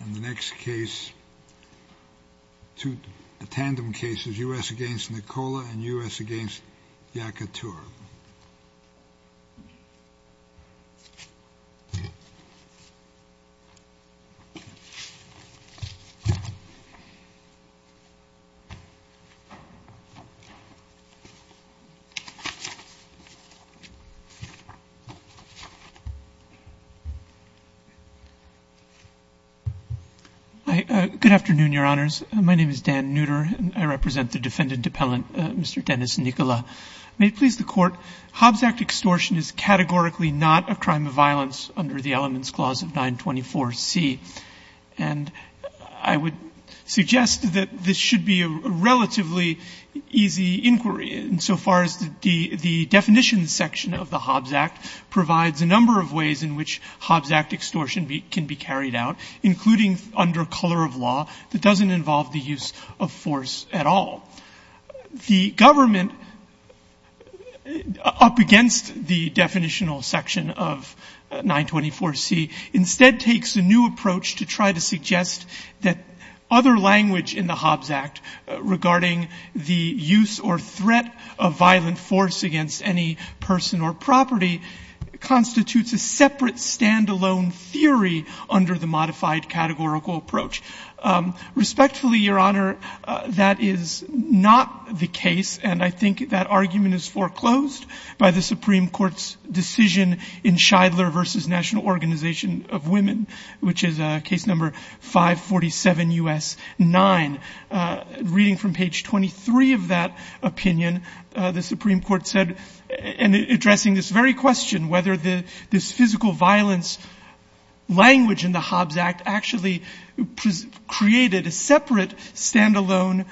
And the next case, a tandem case, is U.S. v. Nicola and U.S. v. Yacoutour. Hi. Good afternoon, Your Honors. My name is Dan Nooter, and I represent the defendant appellant, Mr. Dennis Nicola. May it please the Court, Hobbs Act extortion is categorically not a crime of violence under the Elements Clause of 924C. And I would suggest that this should be a relatively easy inquiry, insofar as the definitions section of the Hobbs Act provides a number of ways in which Hobbs Act extortion can be carried out, including under color of law that doesn't involve the use of force at all. The government, up against the definitional section of 924C, instead takes a new approach to try to suggest that other language in the Hobbs Act regarding the use or threat of modified categorical approach. Respectfully, Your Honor, that is not the case. And I think that argument is foreclosed by the Supreme Court's decision in Scheidler v. National Organization of Women, which is case number 547 U.S. 9. Reading from page 23 of that opinion, the Supreme Court said, in addressing this very question, whether this physical violence language in the Hobbs Act actually created a separate, stand-alone,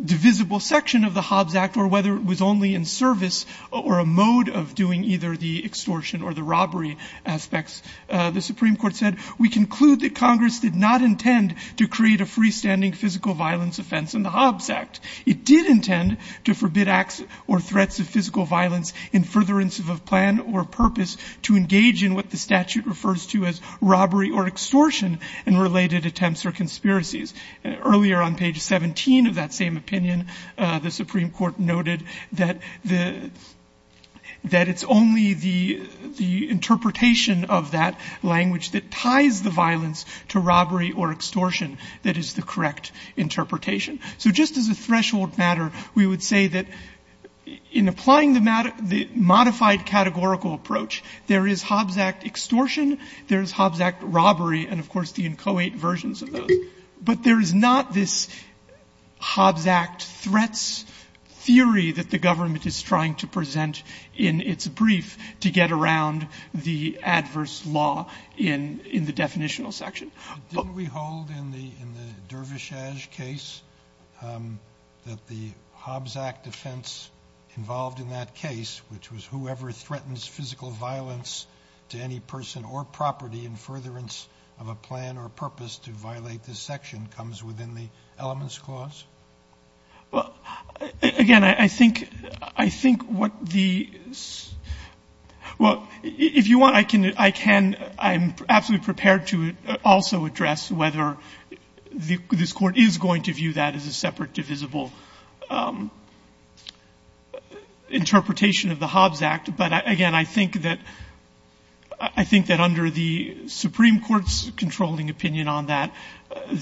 divisible section of the Hobbs Act, or whether it was only in service or a mode of doing either the extortion or the robbery aspects, the Supreme Court said, we conclude that Congress did not intend to create a freestanding physical violence offense in the Hobbs Act. It did intend to forbid acts or threats of physical violence in furtherance of a plan or purpose to engage in what the statute refers to as robbery or extortion and related attempts or conspiracies. Earlier on page 17 of that same opinion, the Supreme Court noted that it's only the interpretation of that language that ties the violence to robbery or extortion that is the correct interpretation. So just as a threshold matter, we would say that in applying the modified categorical approach, there is Hobbs Act extortion, there is Hobbs Act robbery, and, of course, the inchoate versions of those. But there is not this Hobbs Act threats theory that the government is trying to present in its brief to get around the adverse law in the definitional section. Sotomayor, didn't we hold in the Dervish-Ash case that the Hobbs Act defense involved in that case, which was whoever threatens physical violence to any person or property in furtherance of a plan or purpose to violate this section, comes within the Elements Clause? Well, again, I think what the – well, if you want, I can – I'm absolutely prepared to also address whether this Court is going to view that as a separate divisible interpretation of the Hobbs Act, but again, I think that – I think that under the Supreme Court's controlling opinion on that,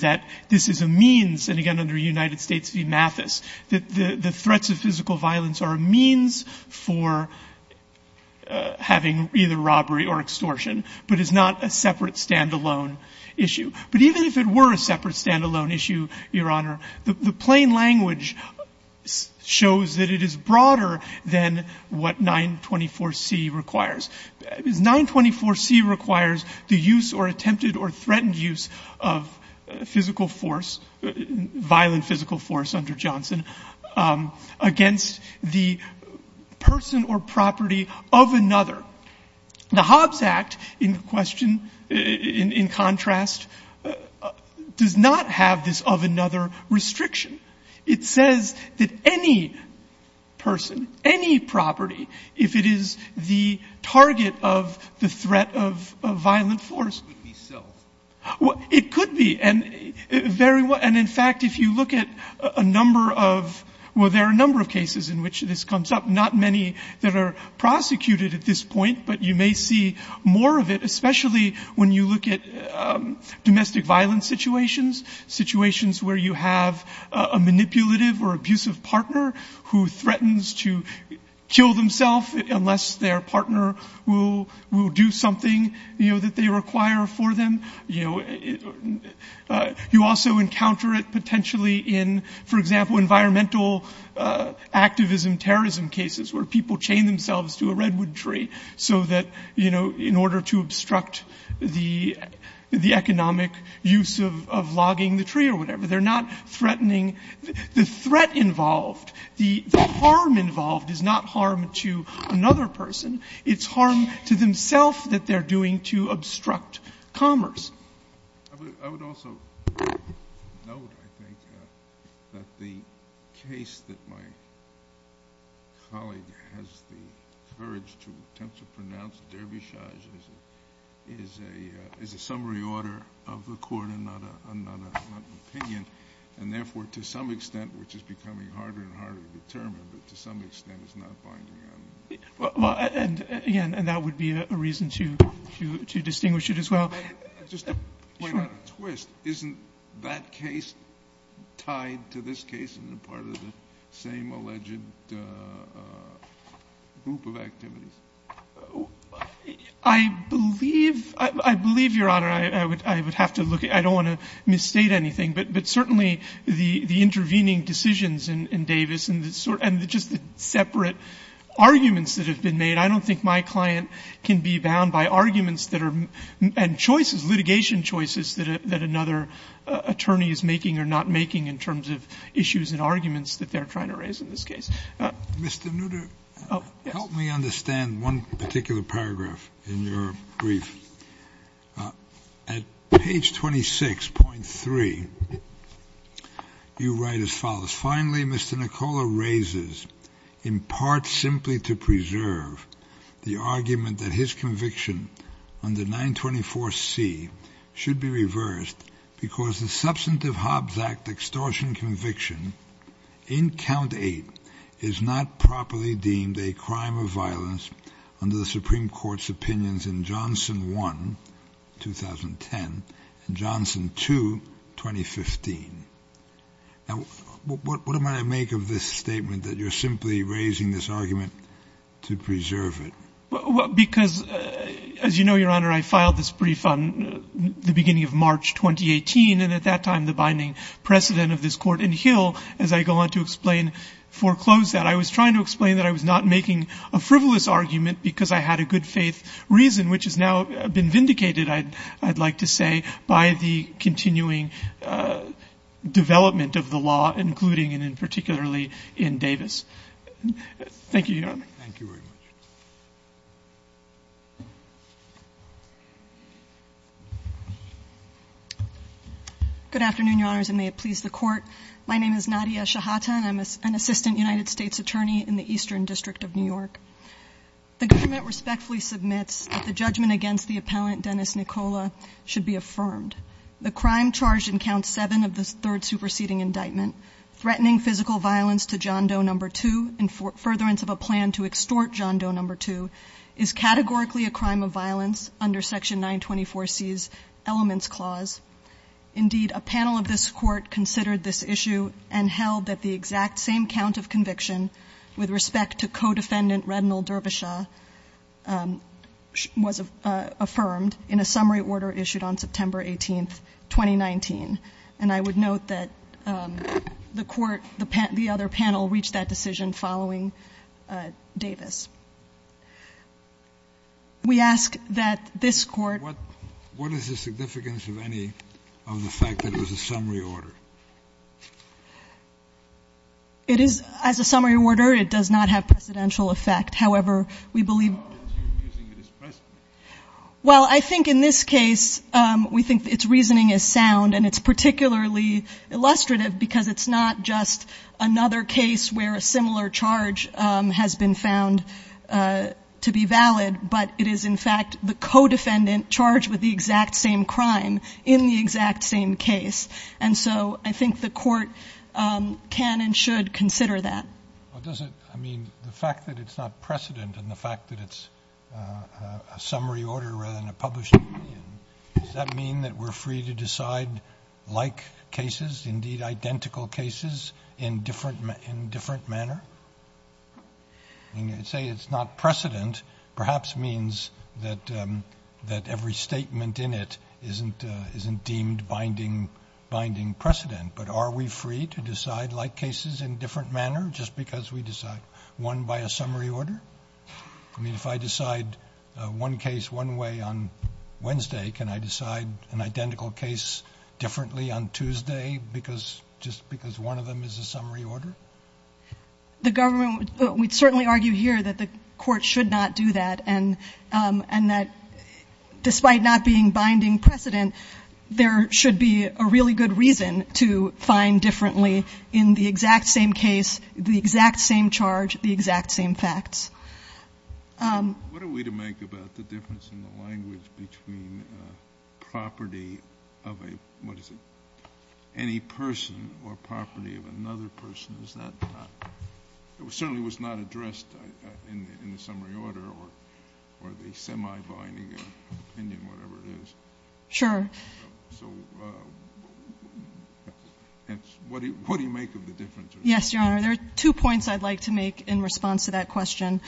that this is a means, and again, under United States v. Mathis, that the threats of physical violence are a means for having either robbery or extortion, but is not a separate standalone issue. But even if it were a separate standalone issue, Your Honor, the plain language shows that it is broader than what 924C requires. 924C requires the use or attempted or threatened use of physical force, violent physical force under Johnson, against the person or property of another. The Hobbs Act, in question, in contrast, does not have this of another restriction. It says that any person, any property, if it is the target of the threat of violent force – It could be self. And in fact, if you look at a number of – well, there are a number of cases in which this comes up, not many that are prosecuted at this point, but you may see more of it, especially when you look at domestic violence situations, situations where you have a manipulative or abusive partner who threatens to kill themselves unless their partner will do something that they require for them. You know, you also encounter it potentially in, for example, environmental activism, terrorism cases where people chain themselves to a redwood tree so that, you know, in order to obstruct the economic use of logging the tree or whatever, they're not threatening the threat involved. The harm involved is not harm to another person. It's harm to themselves that they're doing to obstruct commerce. I would also note, I think, that the case that my colleague has the courage to attempt to pronounce, Derbyshire, is a summary order of the court and not an opinion, and therefore, to some extent, which is becoming harder and harder to determine, but to some extent, it's not binding on me. Well, and again, that would be a reason to distinguish it as well. Just to point out a twist. Isn't that case tied to this case and part of the same alleged group of activities? I believe, Your Honor, I would have to look at it. I don't want to misstate anything, but certainly the intervening decisions in Davis and just the separate arguments that have been made, I don't think my client can be bound by arguments that are and choices, litigation choices that another attorney is making or not making in terms of issues and arguments that they're trying to raise in this case. Mr. Nutter, help me understand one particular paragraph in your brief. At page 26.3, you write as follows. Finally, Mr. Nicola raises, in part simply to preserve, the argument that his conviction under 924C should be reversed because the Substantive Hobbs Act extortion conviction in Count 8 is not properly deemed a crime of violence under the Supreme Court's opinions in Johnson 1, 2010, and Johnson 2, 2015. Now, what am I to make of this statement that you're simply raising this argument to preserve it? Because, as you know, Your Honor, I filed this brief on the beginning of March 2018, and at that time, the binding precedent of this court in Hill, as I go on to explain, foreclosed that. I was trying to explain that I was not making a frivolous argument because I had a good I'd like to say by the continuing development of the law, including and particularly in Davis. Thank you, Your Honor. Thank you very much. Good afternoon, Your Honors, and may it please the Court. My name is Nadia Shahata, and I'm an assistant United States attorney in the Eastern District of New York. The government respectfully submits that the judgment against the appellant, Dennis Nicola, should be affirmed. The crime charged in Count 7 of the third superseding indictment, threatening physical violence to John Doe No. 2 in furtherance of a plan to extort John Doe No. 2, is categorically a crime of violence under Section 924C's elements clause. Indeed, a panel of this court considered this issue and held that the exact same count of conviction with respect to co-defendant Rednell Derbyshire was affirmed in a summary order issued on September 18th, 2019. And I would note that the court, the other panel, reached that decision following Davis. We ask that this court What is the significance of any of the fact that it was a summary order? It is, as a summary order, it does not have precedential effect. However, we believe How are you using it as precedent? Well, I think in this case, we think its reasoning is sound, and it's particularly illustrative because it's not just another case where a similar charge has been found to be valid, but it is, in fact, the co-defendant charged with the exact same crime in the exact same case. And so I think the court can and should consider that. Well, does it, I mean, the fact that it's not precedent and the fact that it's a summary order rather than a published opinion, does that mean that we're free to decide like cases, indeed identical cases, in different, in different manner? When you say it's not precedent, perhaps means that, that every statement in it isn't deemed binding, binding precedent. But are we free to decide like cases in different manner just because we decide one by a summary order? I mean, if I decide one case one way on Wednesday, can I decide an identical case differently on Tuesday because, just because one of them is a summary order? The government, we'd certainly argue here that the court should not do that, and that despite not being binding precedent, there should be a really good reason to find differently in the exact same case, the exact same charge, the exact same facts. What are we to make about the difference in the language between property of a, what is it, any person or property of another person? It certainly was not addressed in the summary order or the semi-binding opinion, whatever it is. Sure. So what do you make of the difference? Yes, Your Honor. There are two points I'd like to make in response to that question.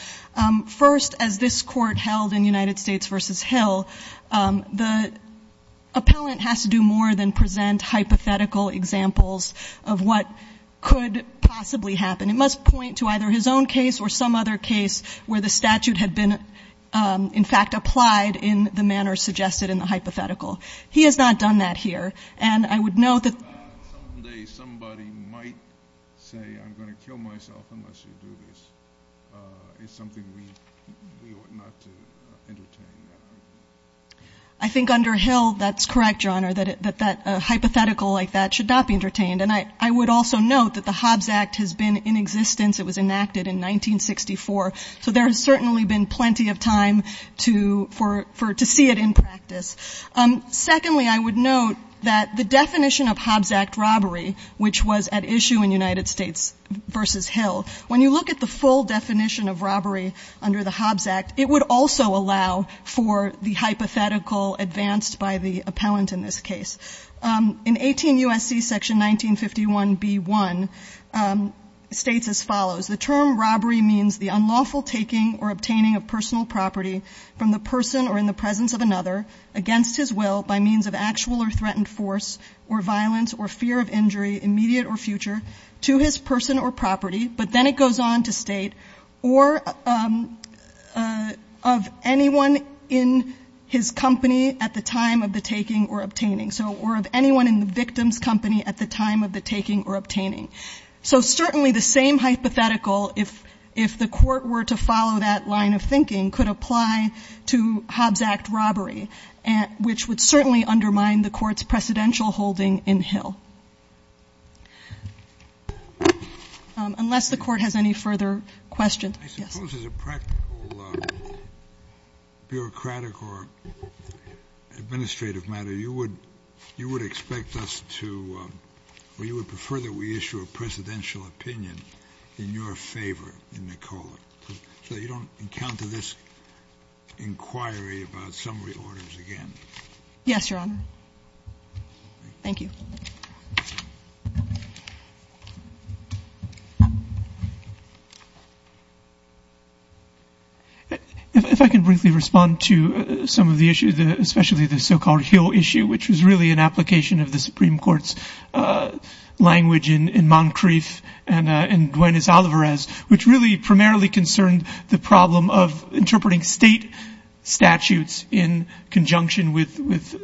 First, as this Court held in United States v. Hill, the appellant has to do more than present hypothetical examples of what could possibly happen. It must point to either his own case or some other case where the statute had been in fact applied in the manner suggested in the hypothetical. He has not done that here. And I would note that the fact that someday somebody might say, I'm going to kill myself unless you do this, is something we ought not to entertain that argument. I think under Hill, that's correct, Your Honor, that a hypothetical like that should not be entertained. And I would also note that the Hobbs Act has been in existence. It was enacted in 1964. So there has certainly been plenty of time to see it in practice. Secondly, I would note that the definition of Hobbs Act robbery, which was at issue in United States v. Hill, when you look at the full definition of robbery under the hypothetical advanced by the appellant in this case, in 18 U.S.C. section 1951b1, states as follows. The term robbery means the unlawful taking or obtaining of personal property from the person or in the presence of another against his will by means of actual or threatened force or violence or fear of injury, immediate or future, to his person or property. But then it goes on to state, or of anyone in his company at the time of the taking or obtaining. So, or of anyone in the victim's company at the time of the taking or obtaining. So certainly the same hypothetical, if the court were to follow that line of thinking, could apply to Hobbs Act robbery, which would certainly undermine the court's unless the court has any further questions. Yes. I suppose as a practical bureaucratic or administrative matter, you would expect us to, or you would prefer that we issue a presidential opinion in your favor in Nicola, so you don't encounter this inquiry about summary orders again. Yes, Your Honor. Thank you. If I can briefly respond to some of the issues, especially the so-called Hill issue, which was really an application of the Supreme Court's language in Moncrief and in Duenes-Olivares, which really primarily concerned the problem of interpreting state statutes in conjunction with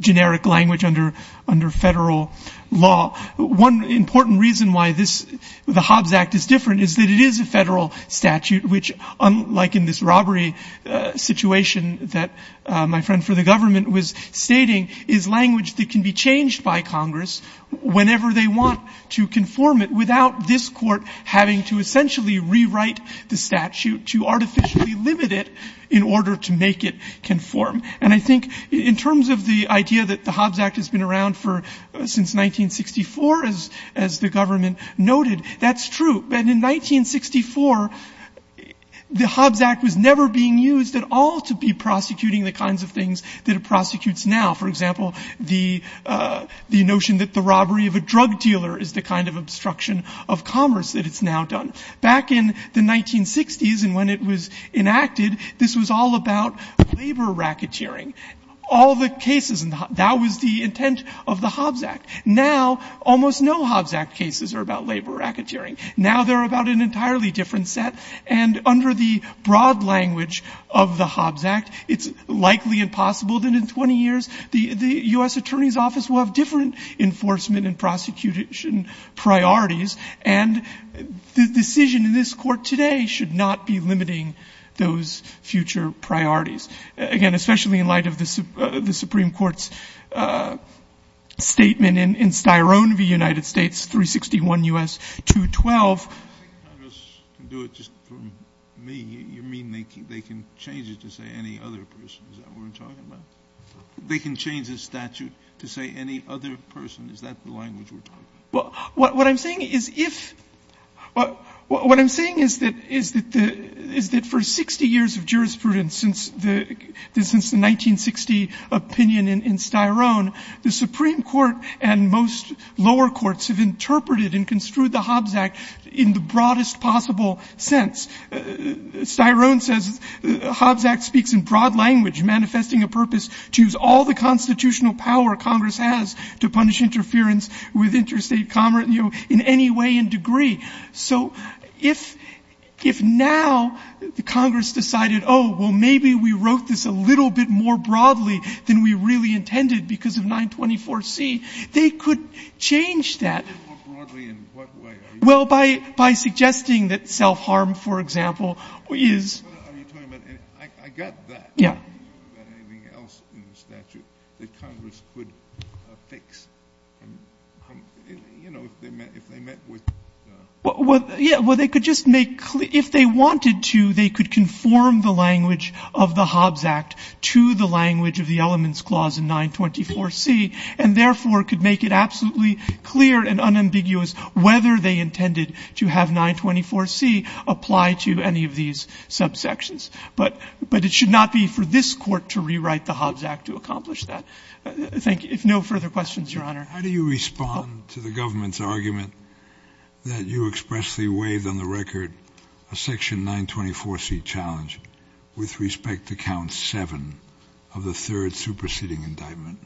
generic language under federal law. One important reason why this, the Hobbs Act is different is that it is a federal statute, which unlike in this robbery situation that my friend for the government was stating, is language that can be changed by Congress whenever they want to conform it without this court having to essentially rewrite the statute to artificially limit it in order to make it conform. And I think in terms of the idea that the Hobbs Act has been around since 1964, as the government noted, that's true. But in 1964, the Hobbs Act was never being used at all to be prosecuting the kinds of things that it prosecutes now. For example, the notion that the robbery of a drug dealer is the kind of obstruction of commerce that it's now done. Back in the 1960s and when it was enacted, this was all about labor racketeering, all the cases, and that was the intent of the Hobbs Act. Now, almost no Hobbs Act cases are about labor racketeering. Now they're about an entirely different set. And under the broad language of the Hobbs Act, it's likely impossible that in 20 years the U.S. Attorney's Office will have different enforcement and prosecution priorities, and the decision in this Court today should not be limiting those future priorities. Again, especially in light of the Supreme Court's statement in Styrone v. United States, 361 U.S. 212. Scalia. I think Congress can do it just from me. You mean they can change it to say any other person? Is that what we're talking about? They can change the statute to say any other person? Is that the language we're talking about? Well, what I'm saying is if — what I'm saying is that for 60 years of jurisprudence since the 1960 opinion in Styrone, the Supreme Court and most lower courts have interpreted and construed the Hobbs Act in the broadest possible sense. Styrone says the Hobbs Act speaks in broad language manifesting a purpose to use all the constitutional power Congress has to punish interference with interstate commerce in any way and degree. So if now Congress decided, oh, well, maybe we wrote this a little bit more broadly than we really intended because of 924C, they could change that. A little bit more broadly in what way? Well, by suggesting that self-harm, for example, is — Are you talking about — I got that. Yeah. Are you talking about anything else in the statute that Congress could fix? You know, if they met with — Yeah. Well, they could just make — if they wanted to, they could conform the language of the Hobbs Act to the language of the Elements Clause in 924C and therefore could make it absolutely clear and unambiguous whether they intended to have 924C apply to any of these subsections. But it should not be for this Court to rewrite the Hobbs Act to accomplish that. Thank you. If no further questions, Your Honor. How do you respond to the government's argument that you expressly waived on the record a Section 924C challenge with respect to Count 7 of the third superseding indictment?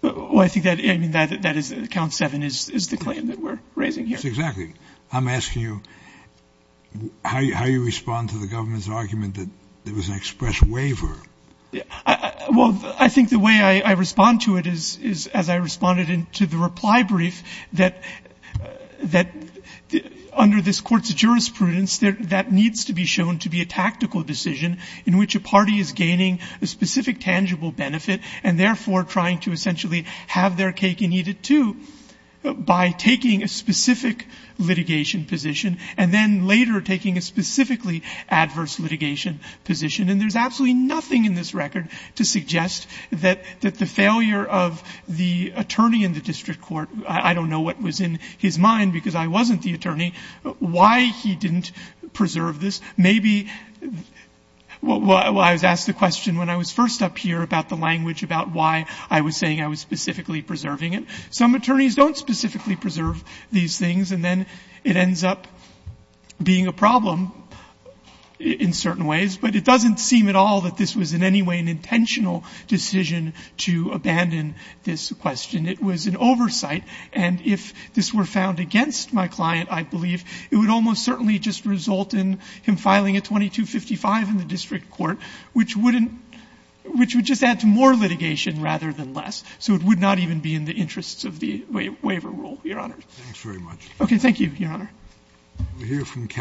Well, I think that — I mean, that is — Count 7 is the claim that we're raising here. Exactly. I'm asking you how you respond to the government's argument that there was an express waiver. Well, I think the way I respond to it is, as I responded to the reply brief, that under this Court's jurisprudence, that needs to be shown to be a tactical decision in which a party is gaining a specific tangible benefit and, therefore, trying to essentially have their cake and eat it, too, by taking a specific litigation position and then later taking a specifically adverse litigation position. And there's absolutely nothing in this record to suggest that the failure of the attorney in the district court — I don't know what was in his mind because I wasn't the attorney — why he didn't preserve this. Maybe — well, I was asked the question when I was first up here about the language about why I was saying I was specifically preserving it. Some attorneys don't specifically preserve these things, and then it ends up being a problem in certain ways. But it doesn't seem at all that this was in any way an intentional decision to abandon this question. It was an oversight. And if this were found against my client, I believe, it would almost certainly just result in him filing a 2255 in the district court, which would just add to more litigation rather than less. So it would not even be in the interests of the waiver rule, Your Honor. Thanks very much. Okay. Thank you, Your Honor.